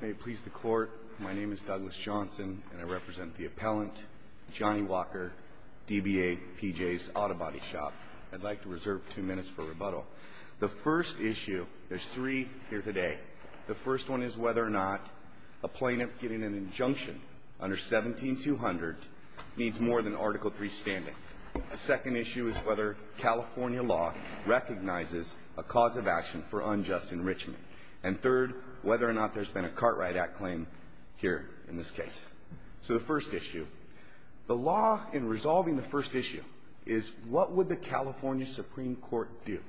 May it please the court, my name is Douglas Johnson, and I represent the appellant, Johnny Walker, DBA PJ's Auto Body Shop. I'd like to reserve two minutes for rebuttal. The first issue, there's three here today. The first one is whether or not a plaintiff getting an injunction under 17-200 needs more than Article 3 standing. The second issue is whether California law recognizes a cause of action for unjust enrichment. And third, whether or not there's been a Cartwright Act claim here in this case. So the first issue, the law in resolving the first issue is what would the California Supreme Court do?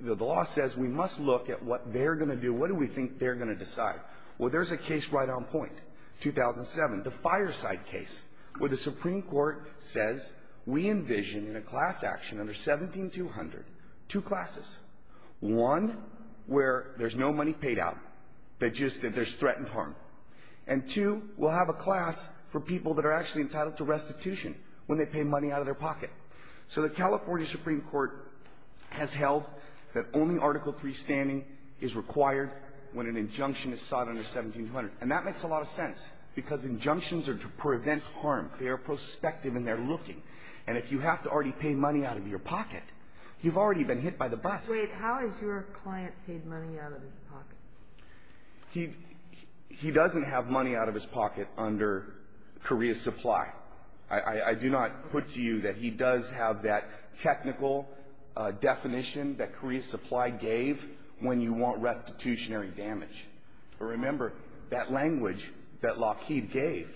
The law says we must look at what they're going to do, what do we think they're going to decide? Well, there's a case right on point, 2007, the Fireside case, where the Supreme Court says we envision in a class action under 17-200, two classes. One, where there's no money paid out, just that there's threatened harm. And two, we'll have a class for people that are actually entitled to restitution when they pay money out of their pocket. So the California Supreme Court has held that only Article 3 standing is required when an injunction is sought under 17-200. And that makes a lot of sense, because injunctions are to prevent harm. They are prospective and they're looking. And if you have to already pay money out of your pocket, you've already been hit by the bus. Wait. How has your client paid money out of his pocket? He doesn't have money out of his pocket under Korea Supply. I do not put to you that he does have that technical definition that Korea Supply gave when you want restitutionary damage. Remember, that language that Lockheed gave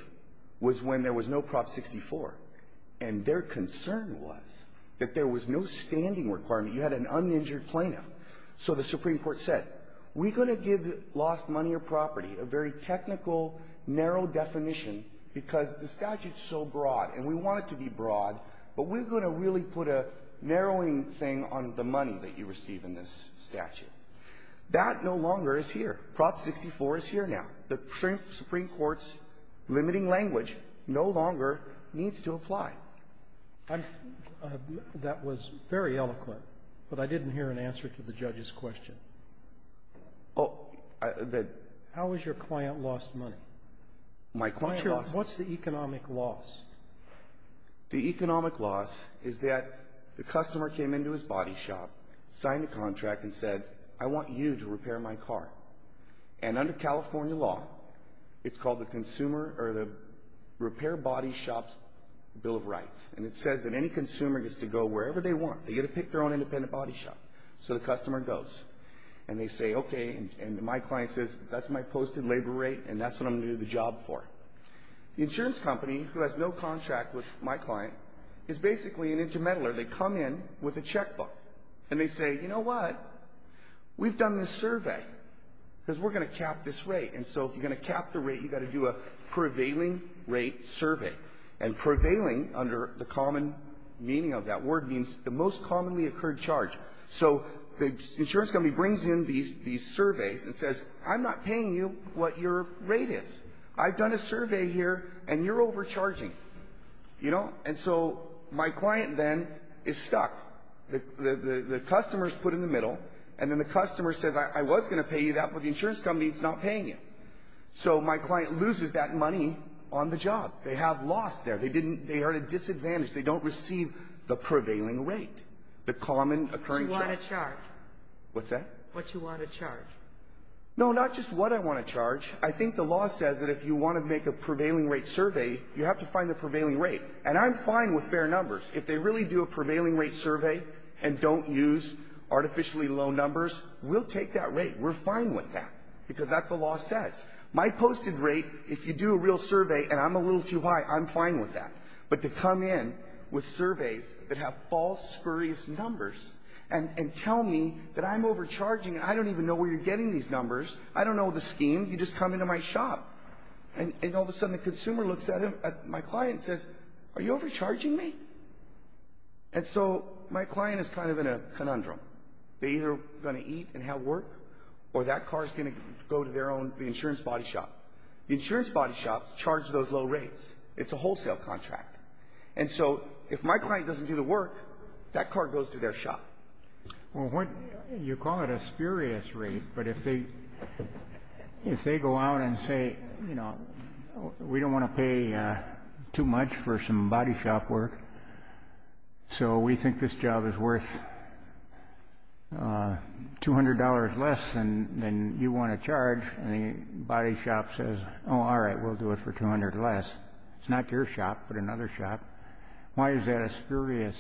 was when there was no Prop 64. And their concern was that there was no standing requirement. You had an uninjured plaintiff. So the Supreme Court said, we're going to give lost money or property a very technical, narrow definition, because the statute is so broad. And we want it to be broad, but we're going to really put a narrowing thing on the money that you receive in this statute. That no longer is here. Prop 64 is here now. The Supreme Court's limiting language no longer needs to apply. I'm — that was very eloquent, but I didn't hear an answer to the judge's question. Oh, the — How has your client lost money? My client lost — What's your — what's the economic loss? The economic loss is that the customer came into his body shop, signed a contract, and said, I want you to repair my car. And under California law, it's called the Consumer — or the Repair Body Shop's Bill of Rights. And it says that any consumer gets to go wherever they want. They get to pick their own independent body shop. So the customer goes. And they say, okay, and my client says, that's my posted labor rate, and that's what I'm going to do the job for. The insurance company, who has no contract with my client, is basically an intermeddler. They come in with a checkbook. And they say, you know what? We've done this survey because we're going to cap this rate. And so if you're going to cap the rate, you've got to do a prevailing rate survey. And prevailing, under the common meaning of that word, means the most commonly occurred charge. So the insurance company brings in these surveys and says, I'm not paying you what your rate is. I've done a survey here, and you're overcharging. You know? And so my client then is stuck. The customer is put in the middle. And then the customer says, I was going to pay you that, but the insurance company is not paying you. So my client loses that money on the job. They have lost there. They are at a disadvantage. They don't receive the prevailing rate, the common occurring charge. What you want to charge. What's that? What you want to charge. No, not just what I want to charge. I think the law says that if you want to make a prevailing rate survey, you have to find the prevailing rate. And I'm fine with fair numbers. If they really do a prevailing rate survey and don't use artificially low numbers, we'll take that rate. We're fine with that because that's what the law says. My posted rate, if you do a real survey and I'm a little too high, I'm fine with that. But to come in with surveys that have false, spurious numbers and tell me that I'm overcharging, I don't even know where you're getting these numbers. I don't know the scheme. You just come into my shop. And all of a sudden the consumer looks at my client and says, are you overcharging me? And so my client is kind of in a conundrum. They're either going to eat and have work or that car is going to go to their own insurance body shop. The insurance body shops charge those low rates. It's a wholesale contract. And so if my client doesn't do the work, that car goes to their shop. Well, you call it a spurious rate, but if they go out and say, you know, we don't want to pay too much for some body shop work, so we think this job is worth $200 less than you want to charge, and the body shop says, oh, all right, we'll do it for $200 less. It's not your shop but another shop. Why is that a spurious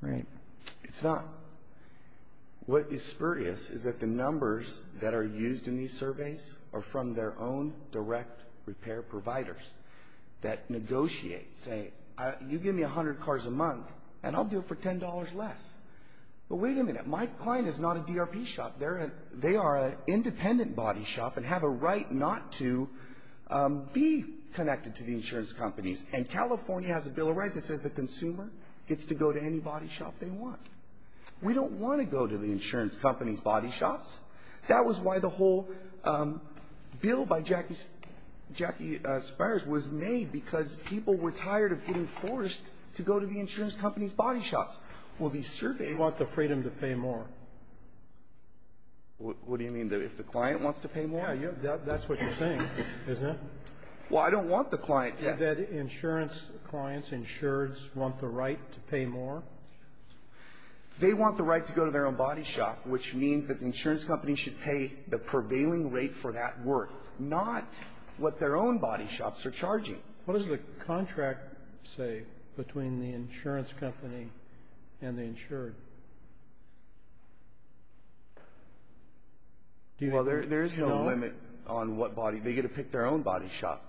rate? It's not. What is spurious is that the numbers that are used in these surveys are from their own direct repair providers that negotiate saying, you give me 100 cars a month and I'll do it for $10 less. But wait a minute. My client is not a DRP shop. They are an independent body shop and have a right not to be connected to the insurance companies. And California has a bill of rights that says the consumer gets to go to any body shop they want. We don't want to go to the insurance company's body shops. That was why the whole bill by Jackie Spires was made, because people were tired of getting forced to go to the insurance company's body shops. Well, these surveys ---- You want the freedom to pay more. What do you mean? If the client wants to pay more? Yeah. That's what you're saying, isn't it? Well, I don't want the client to ---- Do you think that insurance clients, insureds, want the right to pay more? They want the right to go to their own body shop, which means that the insurance company should pay the prevailing rate for that work, not what their own body shops are charging. What does the contract say between the insurance company and the insured? Well, there is no limit on what body ---- They get to pick their own body shop.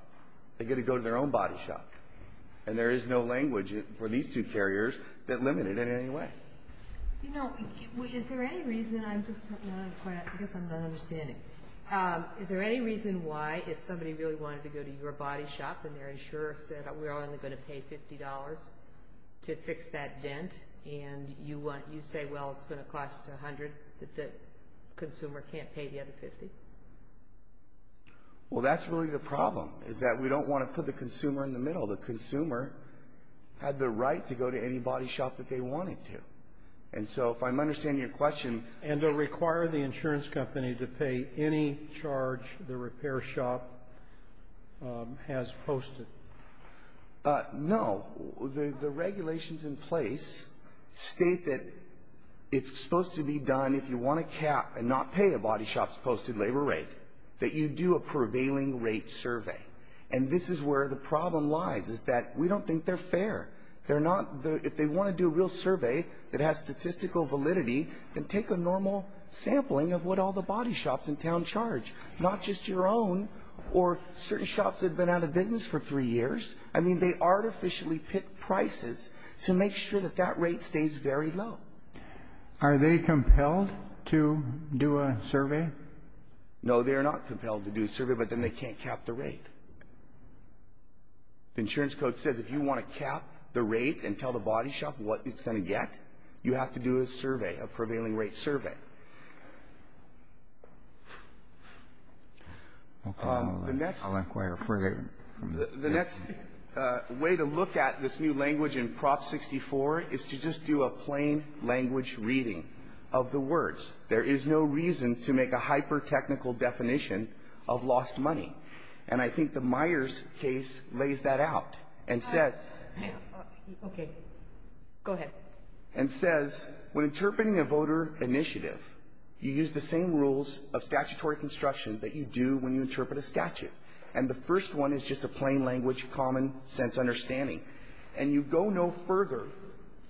They get to go to their own body shop, and there is no language for these two carriers that limit it in any way. You know, is there any reason ---- I guess I'm not understanding. Is there any reason why if somebody really wanted to go to your body shop and their insurer said, we're only going to pay $50 to fix that dent, and you say, well, it's going to cost $100, that the consumer can't pay the other $50? Well, that's really the problem, is that we don't want to put the consumer in the middle. The consumer had the right to go to any body shop that they wanted to. And so if I'm understanding your question ---- And to require the insurance company to pay any charge the repair shop has posted? No. The regulations in place state that it's supposed to be done, if you want to cap and not pay a body shop's posted labor rate, that you do a prevailing rate survey. And this is where the problem lies, is that we don't think they're fair. If they want to do a real survey that has statistical validity, then take a normal sampling of what all the body shops in town charge, not just your own or certain shops that have been out of business for three years. I mean, they artificially pick prices to make sure that that rate stays very low. Are they compelled to do a survey? No, they are not compelled to do a survey, but then they can't cap the rate. The insurance code says if you want to cap the rate and tell the body shop what it's going to get, you have to do a survey, a prevailing rate survey. I'll inquire further. The next way to look at this new language in Prop 64 is to just do a plain language reading of the words. There is no reason to make a hyper-technical definition of lost money. And I think the Myers case lays that out and says when interpreting a voter initiative, you use the same rules of statutory construction that you do when you interpret a statute. And the first one is just a plain language, common sense understanding. And you go no further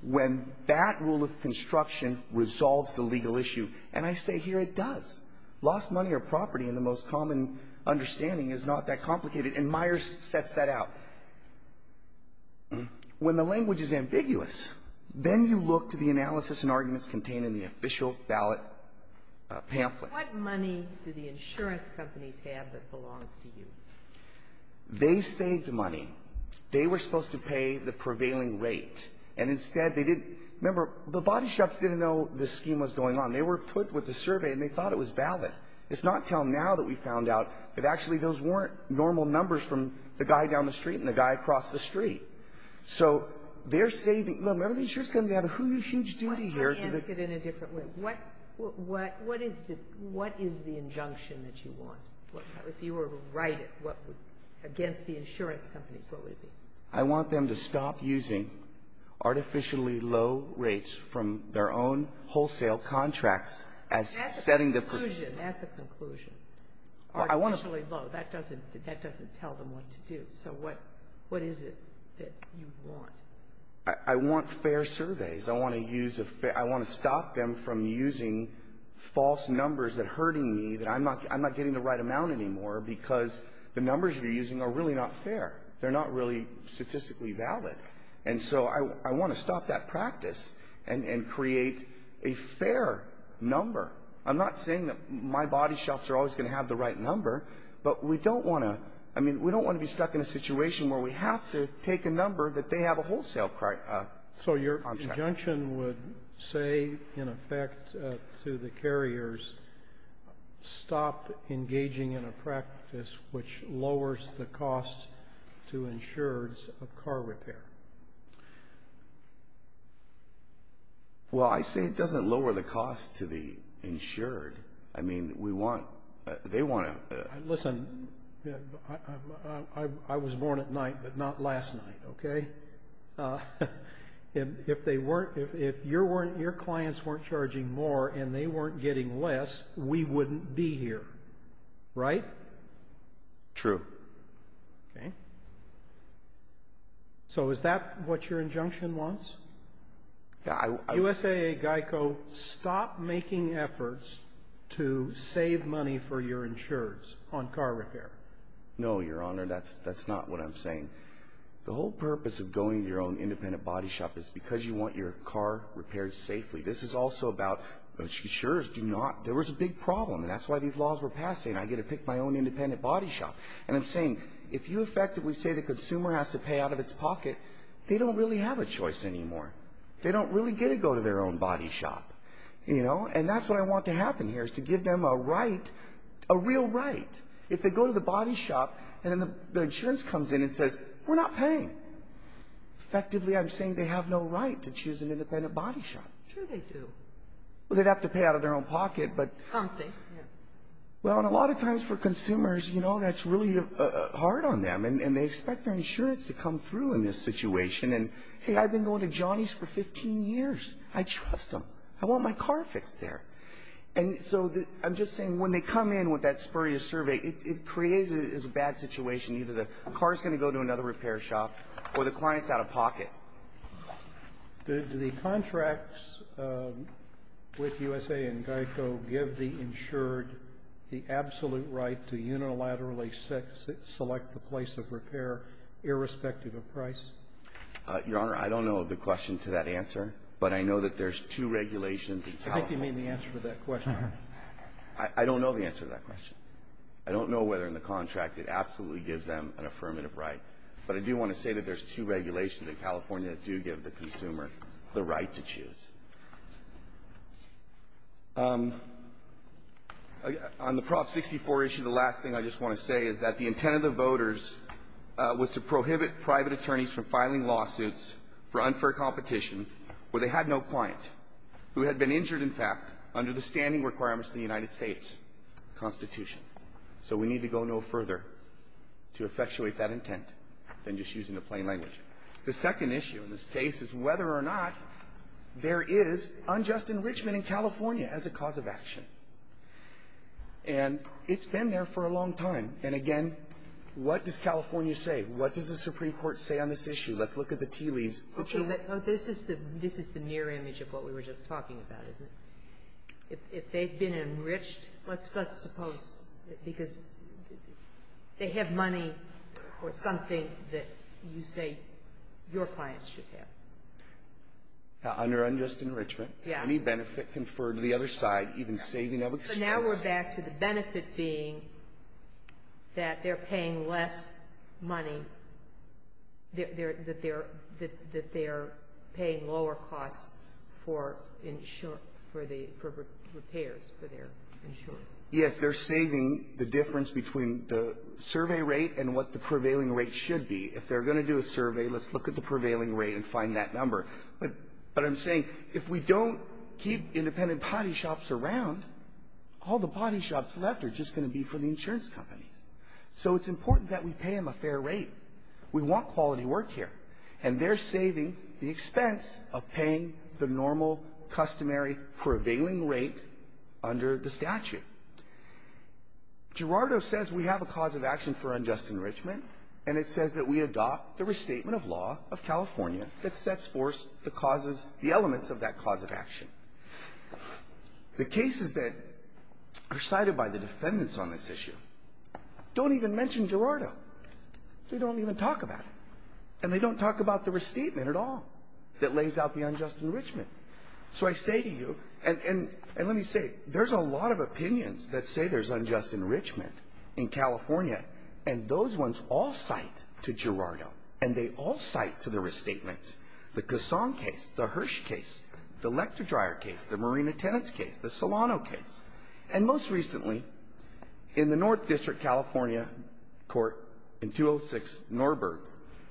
when that rule of construction resolves the legal issue. And I say here it does. Lost money or property in the most common understanding is not that complicated, and Myers sets that out. When the language is ambiguous, then you look to the analysis and arguments contained in the official ballot pamphlet. What money do the insurance companies have that belongs to you? They saved money. They were supposed to pay the prevailing rate, and instead they didn't. Remember, the body shops didn't know this scheme was going on. They were put with the survey, and they thought it was valid. It's not until now that we found out that actually those weren't normal numbers from the guy down the street and the guy across the street. So they're saving. Remember, the insurance company had a huge duty here. Let me ask it in a different way. What is the injunction that you want? If you were to write it, against the insurance companies, what would it be? I want them to stop using artificially low rates from their own wholesale contracts as setting the perjury. That's a conclusion. That's a conclusion. Artificially low, that doesn't tell them what to do. So what is it that you want? I want fair surveys. I want to use a fair ‑‑ I want to stop them from using false numbers that are hurting me, that I'm not getting the right amount anymore because the numbers you're using are really not fair. They're not really statistically valid. And so I want to stop that practice and create a fair number. I'm not saying that my body shops are always going to have the right number, but we don't want to ‑‑ I mean, we don't want to be stuck in a situation where we have to take a number that they have a wholesale contract. So your conjunction would say, in effect, to the carriers, stop engaging in a practice which lowers the cost to insureds of car repair. Well, I say it doesn't lower the cost to the insured. I mean, we want ‑‑ they want to ‑‑ Listen, I was born at night, but not last night, okay? If they weren't ‑‑ if your clients weren't charging more and they weren't getting less, we wouldn't be here, right? True. Okay. So is that what your injunction wants? Yeah, I ‑‑ USAA Geico, stop making efforts to save money for your insureds on car repair. No, Your Honor, that's not what I'm saying. The whole purpose of going to your own independent body shop is because you want your car repaired safely. This is also about insureds do not ‑‑ there was a big problem, and that's why these laws were passed, saying I get to pick my own independent body shop. And I'm saying if you effectively say the consumer has to pay out of its pocket, they don't really have a choice anymore. They don't really get to go to their own body shop, you know? And that's what I want to happen here is to give them a right, a real right. If they go to the body shop and then the insurance comes in and says, we're not paying, effectively I'm saying they have no right to choose an independent body shop. Sure they do. Well, they'd have to pay out of their own pocket, but ‑‑ Something. Well, and a lot of times for consumers, you know, that's really hard on them, and they expect their insurance to come through in this situation. And, hey, I've been going to Johnny's for 15 years. I trust them. I want my car fixed there. And so I'm just saying when they come in with that spurious survey, it creates a bad situation. Either the car is going to go to another repair shop or the client is out of pocket. Do the contracts with USA and GEICO give the insured the absolute right to unilaterally select the place of repair irrespective of price? Your Honor, I don't know the question to that answer, but I know that there's two regulations in California. I think you mean the answer to that question. I don't know the answer to that question. I don't know whether in the contract it absolutely gives them an affirmative right. But I do want to say that there's two regulations in California that do give the consumer the right to choose. On the Prop 64 issue, the last thing I just want to say is that the intent of the voters was to prohibit private attorneys from filing lawsuits for unfair competition where they had no client who had been injured, in fact, under the standing requirements of the United States Constitution. So we need to go no further to effectuate that intent than just using the plain language. The second issue in this case is whether or not there is unjust enrichment in California as a cause of action. And it's been there for a long time. And, again, what does California say? What does the Supreme Court say on this issue? Let's look at the tea leaves. Okay, but this is the near image of what we were just talking about, isn't it? If they've been enriched, let's suppose, because they have money or something that you say your clients should have. Under unjust enrichment. Yeah. Any benefit conferred to the other side, even saving of expense. And now we're back to the benefit being that they're paying less money, that they're paying lower costs for insurance, for the repairs for their insurance. Yes. They're saving the difference between the survey rate and what the prevailing rate should be. If they're going to do a survey, let's look at the prevailing rate and find that number. But I'm saying if we don't keep independent potty shops around, all the potty shops left are just going to be for the insurance companies. So it's important that we pay them a fair rate. We want quality work here. And they're saving the expense of paying the normal, customary, prevailing rate under the statute. Gerardo says we have a cause of action for unjust enrichment, and it says that we adopt the restatement of law of California that sets forth the causes, the elements of that cause of action. The cases that are cited by the defendants on this issue don't even mention Gerardo. They don't even talk about it. And they don't talk about the restatement at all that lays out the unjust enrichment. So I say to you, and let me say, there's a lot of opinions that say there's unjust enrichment in California, and those ones all cite to Gerardo, and they all cite to the restatement. The Casson case, the Hirsch case, the Lector-Dryer case, the Marina Tenets case, the Solano case. And most recently, in the North District California court in 206, Norberg.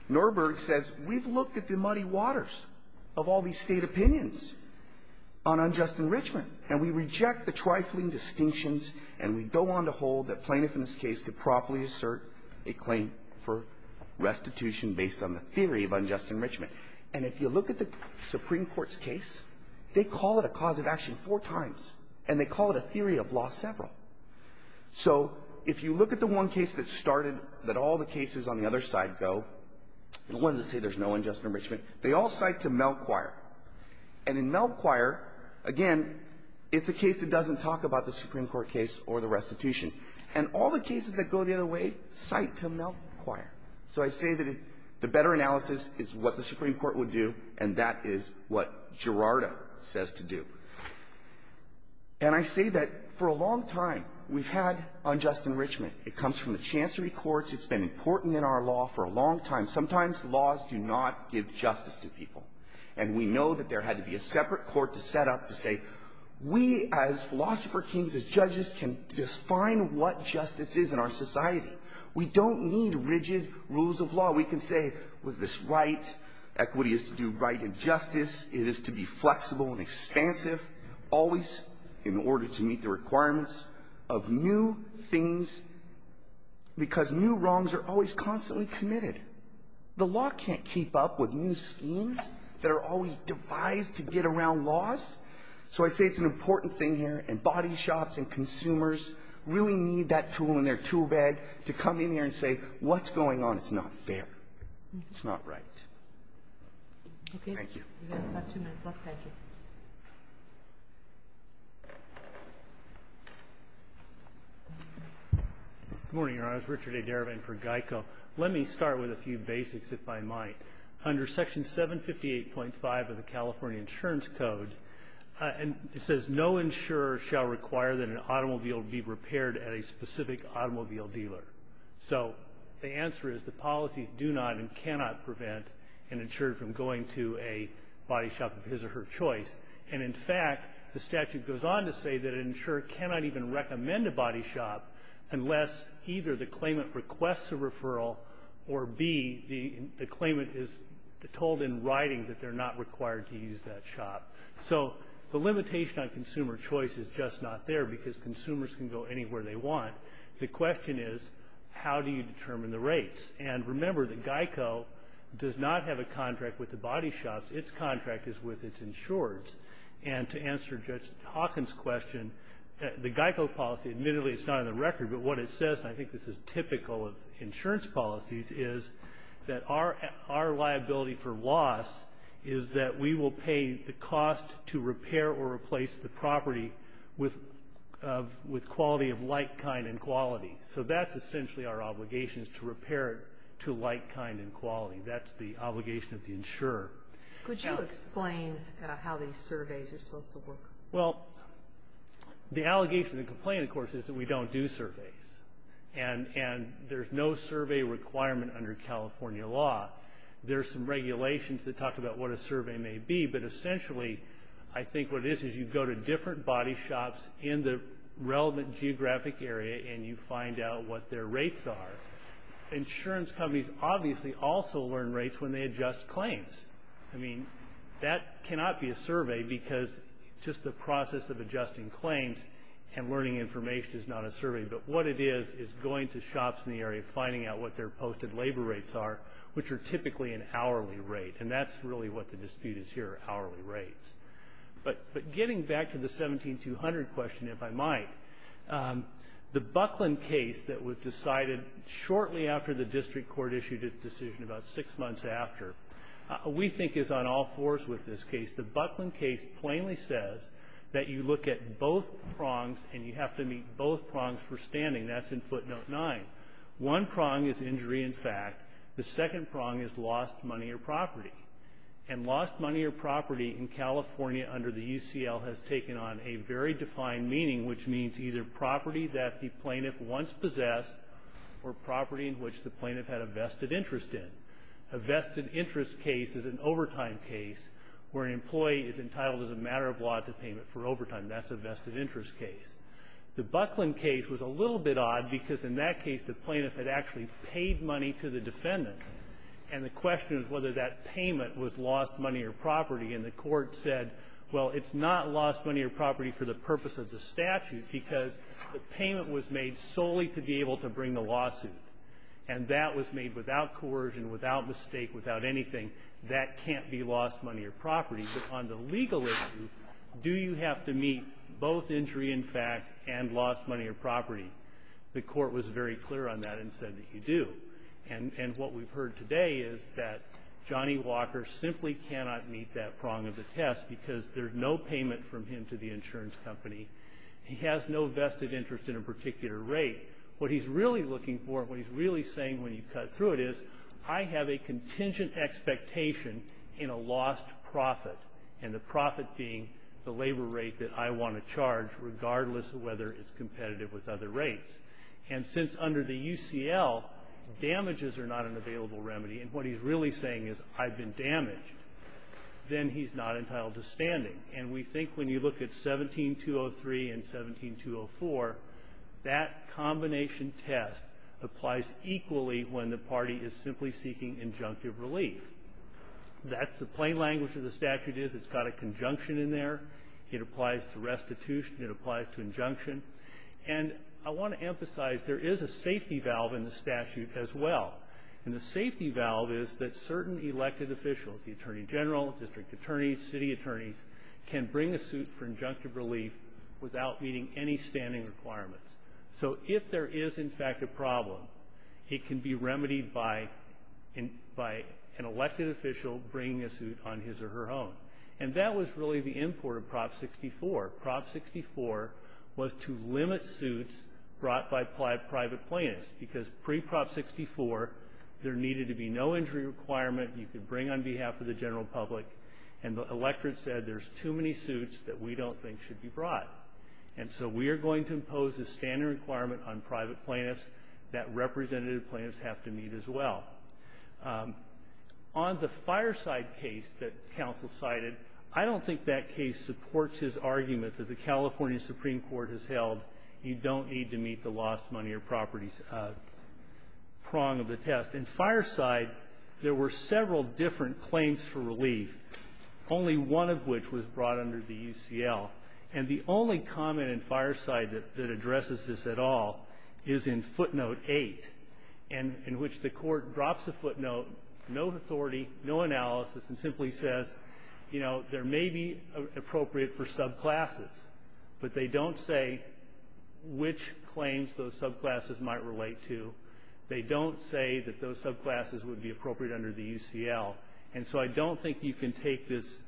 Norberg says we've looked at the muddy waters of all these state opinions on unjust enrichment, and we reject the trifling distinctions, and we go on to hold that plaintiff in this case could properly assert a claim for restitution based on the theory of unjust enrichment. And if you look at the Supreme Court's case, they call it a cause of action four times, and they call it a theory of law several. So if you look at the one case that started, that all the cases on the other side go, the ones that say there's no unjust enrichment, they all cite to Melchior. And in Melchior, again, it's a case that doesn't talk about the Supreme Court case or the restitution. And all the cases that go the other way cite to Melchior. So I say that the better analysis is what the Supreme Court would do, and that is what Gerardo says to do. And I say that for a long time, we've had unjust enrichment. It comes from the chancery courts. It's been important in our law for a long time. Sometimes laws do not give justice to people. And we know that there had to be a separate court to set up to say, we as philosopher kings, as judges, can define what justice is in our society. We don't need rigid rules of law. We can say, was this right? Equity is to do right and justice. It is to be flexible and expansive, always in order to meet the requirements of new things, because new wrongs are always constantly committed. The law can't keep up with new schemes that are always devised to get around laws. So I say it's an important thing here, and body shops and consumers really need that tool in their tool bag to come in here and say, what's going on? It's not fair. It's not right. Thank you. We have about two minutes left. Thank you. Good morning, Your Honors. Richard A. Derivan for GEICO. Let me start with a few basics, if I might. Under Section 758.5 of the California Insurance Code, it says, no insurer shall require that an automobile be repaired at a specific automobile dealer. So the answer is the policies do not and cannot prevent an insurer from going to a body shop of his or her choice. And, in fact, the statute goes on to say that an insurer cannot even recommend a referral or, B, the claimant is told in writing that they're not required to use that shop. So the limitation on consumer choice is just not there because consumers can go anywhere they want. The question is, how do you determine the rates? And remember that GEICO does not have a contract with the body shops. Its contract is with its insurers. And to answer Judge Hawkins' question, the GEICO policy, admittedly, it's not on the record. But what it says, and I think this is typical of insurance policies, is that our liability for loss is that we will pay the cost to repair or replace the property with quality of like kind and quality. So that's essentially our obligation is to repair it to like kind and quality. That's the obligation of the insurer. Could you explain how these surveys are supposed to work? Well, the allegation and complaint, of course, is that we don't do surveys. And there's no survey requirement under California law. There are some regulations that talk about what a survey may be, but essentially I think what it is is you go to different body shops in the relevant geographic area and you find out what their rates are. Insurance companies obviously also learn rates when they adjust claims. I mean, that cannot be a survey because just the process of adjusting claims and learning information is not a survey. But what it is is going to shops in the area, finding out what their posted labor rates are, which are typically an hourly rate. And that's really what the dispute is here, hourly rates. But getting back to the 17-200 question, if I might, the Buckland case that was decided shortly after the district court issued its ruling six months after, we think is on all fours with this case. The Buckland case plainly says that you look at both prongs and you have to meet both prongs for standing. That's in footnote 9. One prong is injury in fact. The second prong is lost money or property. And lost money or property in California under the UCL has taken on a very defined meaning, which means either property that the plaintiff once possessed or property in which the plaintiff had a vested interest in. A vested interest case is an overtime case where an employee is entitled as a matter of law to payment for overtime. That's a vested interest case. The Buckland case was a little bit odd because in that case the plaintiff had actually paid money to the defendant. And the question is whether that payment was lost money or property. And the court said, well, it's not lost money or property for the purpose of the statute because the payment was made solely to be able to bring the lawsuit. And that was made without coercion, without mistake, without anything. That can't be lost money or property. But on the legal issue, do you have to meet both injury in fact and lost money or property? The court was very clear on that and said that you do. And what we've heard today is that Johnny Walker simply cannot meet that prong of the test because there's no payment from him to the insurance company. He has no vested interest in a particular rate. What he's really looking for, what he's really saying when you cut through it, is I have a contingent expectation in a lost profit, and the profit being the labor rate that I want to charge regardless of whether it's competitive with other rates. And since under the UCL damages are not an available remedy, and what he's really saying is I've been damaged, then he's not entitled to standing. And we think when you look at 17203 and 17204, that combination test applies equally when the party is simply seeking injunctive relief. That's the plain language of the statute is it's got a conjunction in there. It applies to restitution. It applies to injunction. And I want to emphasize there is a safety valve in the statute as well. And the safety valve is that certain elected officials, the attorney general, district attorneys, city attorneys, can bring a suit for injunctive relief without meeting any standing requirements. So if there is, in fact, a problem, it can be remedied by an elected official bringing a suit on his or her own. And that was really the import of Prop 64. Prop 64 was to limit suits brought by private plaintiffs, because pre-Prop 64 there needed to be no injury requirement. You could bring on behalf of the general public. And the electorate said there's too many suits that we don't think should be brought. And so we are going to impose a standing requirement on private plaintiffs that representative plaintiffs have to meet as well. On the Fireside case that counsel cited, I don't think that case supports his argument that the California Supreme Court has held you don't need to meet the lost money or properties prong of the test. In Fireside, there were several different claims for relief, only one of which was brought under the UCL. And the only comment in Fireside that addresses this at all is in footnote 8, in which the court drops a footnote, no authority, no analysis, and simply says, you know, there may be appropriate for subclasses, but they don't say which claims those subclasses might relate to. They don't say that those subclasses would be appropriate under the UCL. And so I don't think you can take this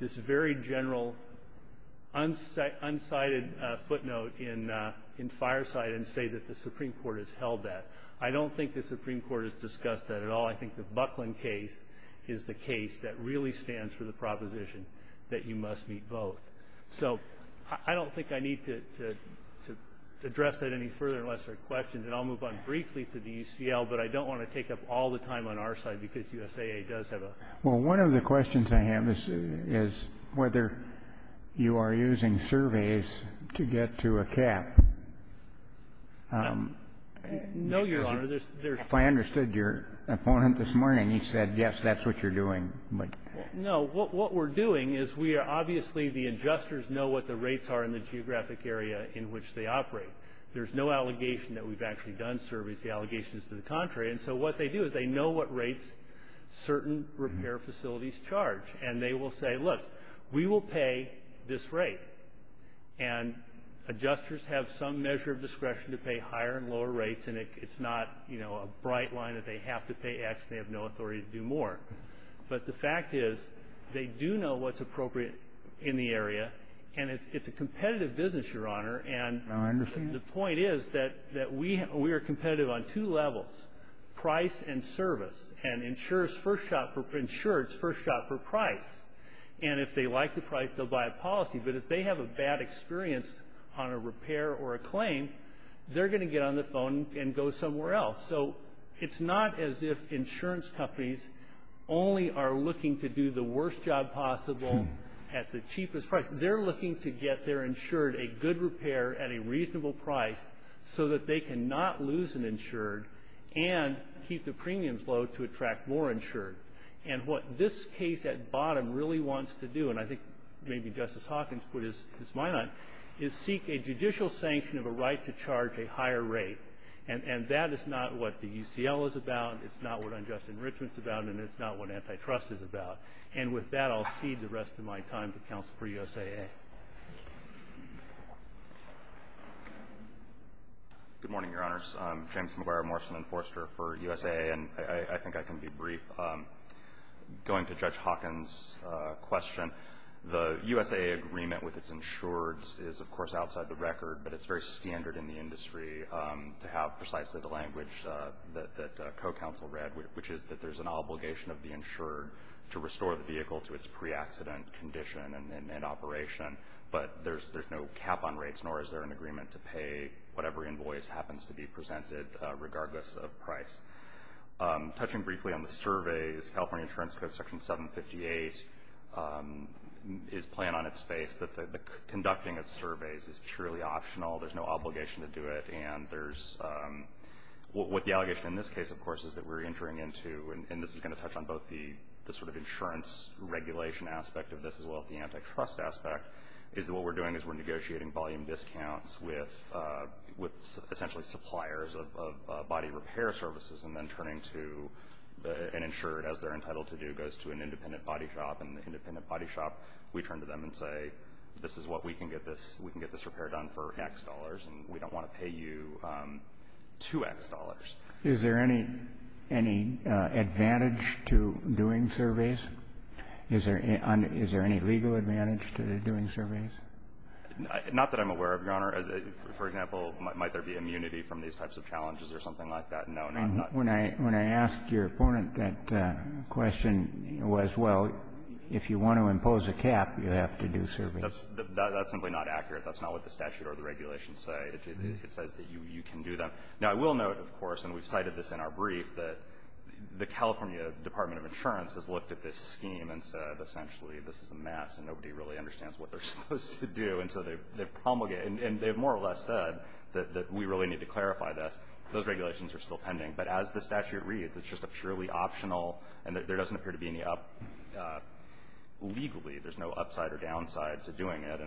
very general unsighted footnote in Fireside and say that the Supreme Court has held that. I don't think the Supreme Court has discussed that at all. I think the Buckland case is the case that really stands for the proposition that you must meet both. So I don't think I need to address that any further unless there are questions, and then I'll move on briefly to the UCL, but I don't want to take up all the time on our side because USAA does have a question. Well, one of the questions I have is whether you are using surveys to get to a cap. No, Your Honor. If I understood your opponent this morning, he said, yes, that's what you're doing. No. What we're doing is we are obviously, the adjusters know what the rates are in the geographic area in which they operate. There's no allegation that we've actually done surveys. The allegation is to the contrary. And so what they do is they know what rates certain repair facilities charge, and they will say, look, we will pay this rate. And adjusters have some measure of discretion to pay higher and lower rates, and it's not, you know, a bright line that they have to pay X, and they have no authority to do more. But the fact is they do know what's appropriate in the area, and it's a competitive business, Your Honor. Now I understand that. And the point is that we are competitive on two levels, price and service. And insurers first shot for price. And if they like the price, they'll buy a policy. But if they have a bad experience on a repair or a claim, they're going to get on the phone and go somewhere else. So it's not as if insurance companies only are looking to do the worst job possible at the cheapest price. They're looking to get their insured a good repair at a reasonable price so that they cannot lose an insured and keep the premiums low to attract more insured. And what this case at bottom really wants to do, and I think maybe Justice Hawkins put his mind on it, is seek a judicial sanction of a right to charge a higher rate. And that is not what the UCL is about, it's not what unjust enrichment is about, and it's not what antitrust is about. And with that, I'll cede the rest of my time to counsel for USAA. Good morning, Your Honors. I'm James McGuire, Morrison Enforcer for USAA, and I think I can be brief. Going to Judge Hawkins' question, the USAA agreement with its insurers is, of course, outside the record, but it's very standard in the industry to have precisely the language that co-counsel read, which is that there's an obligation of the insurer to restore the vehicle to its pre-accident condition and operation, but there's no cap on rates, nor is there an agreement to pay whatever invoice happens to be presented regardless of price. Touching briefly on the surveys, California Insurance Code, Section 758, is plain on its face that the conducting of surveys is purely optional. There's no obligation to do it. What the allegation in this case, of course, is that we're entering into, and this is going to touch on both the sort of insurance regulation aspect of this as well as the antitrust aspect, is that what we're doing is we're negotiating volume discounts with essentially suppliers of body repair services and then turning to an insurer, as they're entitled to do, goes to an independent body shop, and the independent body shop, we turn to them and say, this is what we can get this repair done for X dollars, and we don't want to pay you 2X dollars. Is there any advantage to doing surveys? Is there any legal advantage to doing surveys? Not that I'm aware of, Your Honor. For example, might there be immunity from these types of challenges or something like that? No, not at all. When I asked your opponent that question, it was, well, if you want to impose a cap, you have to do surveys. That's simply not accurate. That's not what the statute or the regulations say. It says that you can do them. Now, I will note, of course, and we've cited this in our brief, that the California Department of Insurance has looked at this scheme and said essentially this is a mess and nobody really understands what they're supposed to do, and so they promulgate it, and they've more or less said that we really need to clarify this. Those regulations are still pending, but as the statute reads, it's just a purely optional and there doesn't appear to be any up legally. There's no upside or downside to doing it.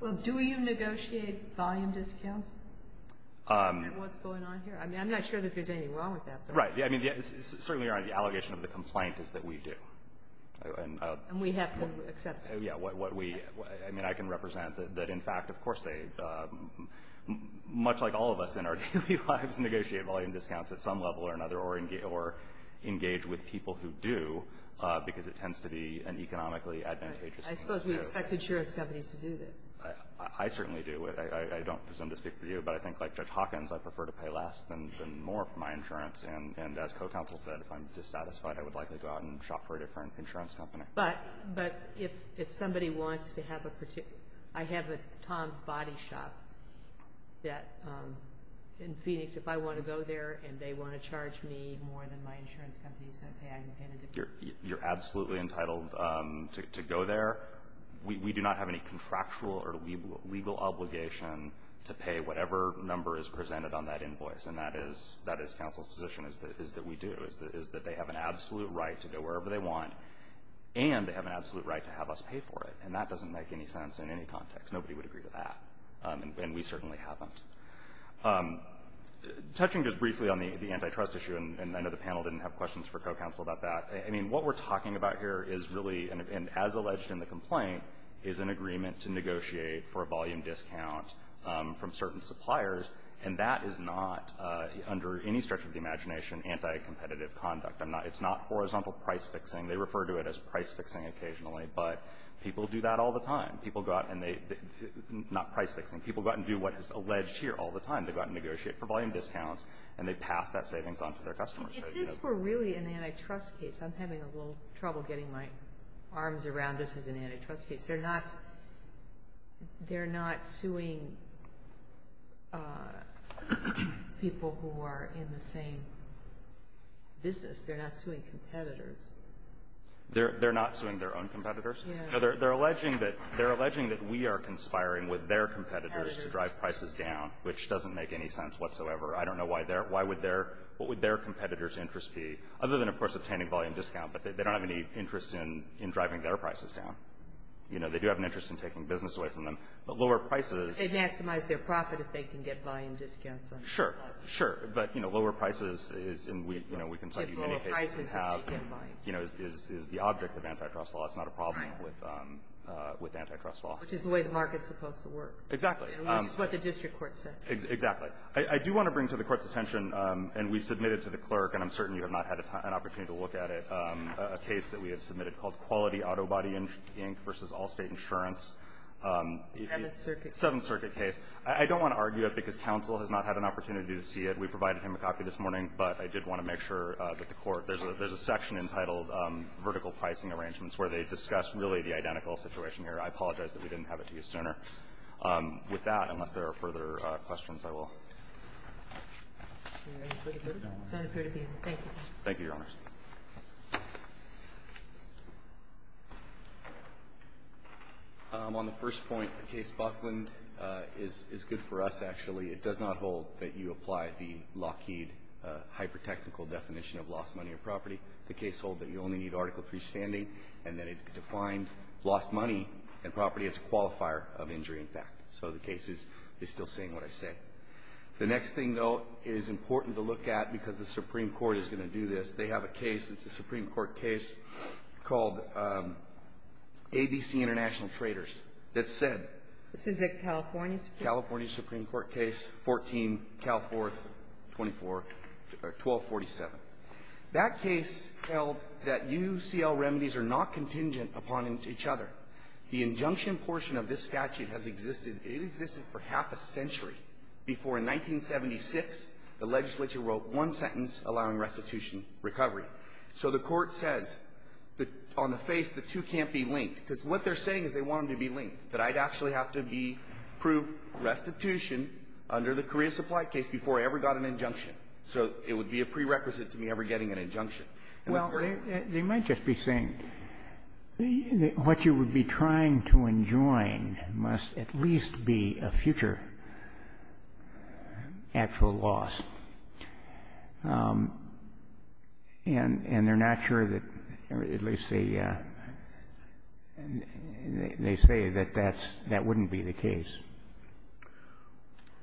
Well, do you negotiate volume discounts? What's going on here? I mean, I'm not sure that there's anything wrong with that. Right. Certainly, Your Honor, the allegation of the complaint is that we do. And we have to accept that. Yeah. I mean, I can represent that in fact, of course, they, much like all of us in our daily lives, negotiate volume discounts at some level or another or engage with people who do, because it tends to be an economically advantageous thing. I suppose we expect insurance companies to do this. I certainly do. I don't presume to speak for you, but I think like Judge Hawkins, I prefer to pay less than more for my insurance. And as co-counsel said, if I'm dissatisfied, I would likely go out and shop for a different insurance company. But if somebody wants to have a particular, I have a Tom's Body shop that, in Phoenix, if I want to go there and they want to charge me more than my insurance company is going to pay, I can pay in a different way. You're absolutely entitled to go there. We do not have any contractual or legal obligation to pay whatever number is presented on that invoice. And that is counsel's position, is that we do, is that they have an absolute right to go wherever they want, and they have an absolute right to have us pay for it. And that doesn't make any sense in any context. Nobody would agree to that. And we certainly haven't. Touching just briefly on the antitrust issue, and I know the panel didn't have questions for co-counsel about that, I mean, what we're talking about here is really, and as alleged in the complaint, is an agreement to negotiate for a volume discount from certain suppliers. And that is not, under any stretch of the imagination, anti-competitive conduct. It's not horizontal price-fixing. They refer to it as price-fixing occasionally, but people do that all the time. People go out and they, not price-fixing, people go out and do what is alleged here all the time. They go out and negotiate for volume discounts, and they pass that savings on to their customers. If this were really an antitrust case, I'm having a little trouble getting my arms around this as an antitrust case. They're not suing people who are in the same business. They're not suing competitors. They're not suing their own competitors? No. They're alleging that we are conspiring with their competitors to drive prices down, which doesn't make any sense whatsoever. I don't know why their, why would their, what would their competitors' interest be, other than, of course, obtaining volume discount, but they don't have any interest in driving their prices down. You know, they do have an interest in taking business away from them. But lower prices… They can maximize their profit if they can get volume discounts on their products. Sure. Sure. But, you know, lower prices is, and we, you know, we can tell you many cases have… Typical prices if they can't buy. You know, is the object of antitrust law. It's not a problem with antitrust law. Right. Which is the way the market is supposed to work. Exactly. Which is what the district court said. Exactly. I do want to bring to the Court's attention, and we submitted to the clerk, and I'm opportunity to look at it, a case that we have submitted called Quality Autobody Inc. v. Allstate Insurance. Seventh Circuit. Seventh Circuit case. I don't want to argue it because counsel has not had an opportunity to see it. We provided him a copy this morning, but I did want to make sure that the Court, there's a section entitled Vertical Pricing Arrangements, where they discuss really the identical situation here. I apologize that we didn't have it to you sooner. With that, unless there are further questions, I will. Thank you. Thank you, Your Honors. On the first point, the case Buckland is good for us, actually. It does not hold that you apply the Lockheed hyper-technical definition of lost money or property. The case holds that you only need Article III standing, and that it defined lost money and property as a qualifier of injury, in fact. So the case is still saying what I said. The next thing, though, is important to look at because the Supreme Court is going to do this. They have a case, it's a Supreme Court case called ABC International Traders that said — This is a California Supreme Court case? California Supreme Court case, 14, Cal 4th, 24, or 1247. That case held that UCL remedies are not contingent upon each other. The injunction portion of this statute has existed, it existed for half a century before, in 1976, the legislature wrote one sentence allowing restitution recovery. So the Court says that on the face, the two can't be linked, because what they're saying is they want them to be linked, that I'd actually have to be — prove restitution under the Korea Supply case before I ever got an injunction. So it would be a prerequisite to me ever getting an injunction. Well, they might just be saying what you would be trying to enjoin must at least be a future actual loss. And they're not sure that — at least they say that that wouldn't be the case.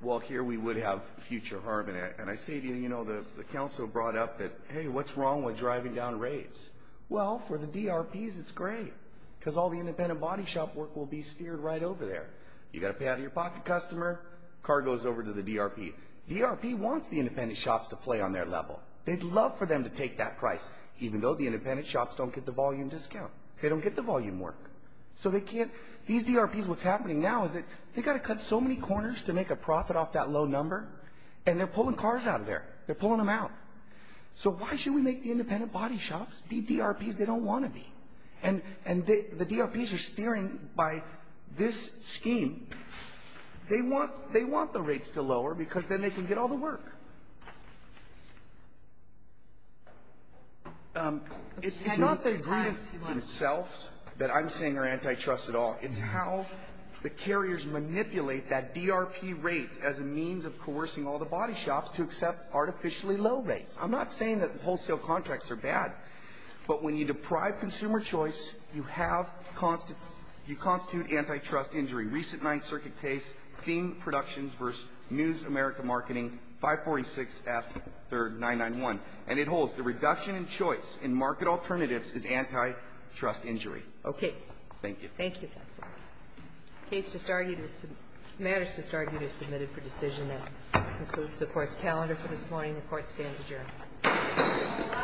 Well, here we would have future harm, and I say to you, you know, the counsel brought up that, hey, what's wrong with driving down rates? Well, for the DRPs it's great, because all the independent body shop work will be steered right over there. You've got to pay out of your pocket customer, car goes over to the DRP. DRP wants the independent shops to play on their level. They'd love for them to take that price, even though the independent shops don't get the volume discount. They don't get the volume work. So they can't — these DRPs, what's happening now is that they've got to cut so many corners to make a profit off that low number, and they're pulling cars out of there. They're pulling them out. So why should we make the independent body shops be DRPs they don't want to be? And the DRPs are steering by this scheme. They want the rates to lower, because then they can get all the work. It's not the agreements themselves that I'm saying are antitrust at all. It's how the carriers manipulate that DRP rate as a means of coercing all the body shops to accept artificially low rates. I'm not saying that wholesale contracts are bad, but when you deprive consumer choice, you have — you constitute antitrust injury. Recent Ninth Circuit case, Theme Productions v. News America Marketing, 546F3991. And it holds. The reduction in choice in market alternatives is antitrust injury. Okay. Thank you. Thank you, counsel. The case just argued is — matters just argued are submitted for decision. That concludes the Court's calendar for this morning. The Court stands adjourned.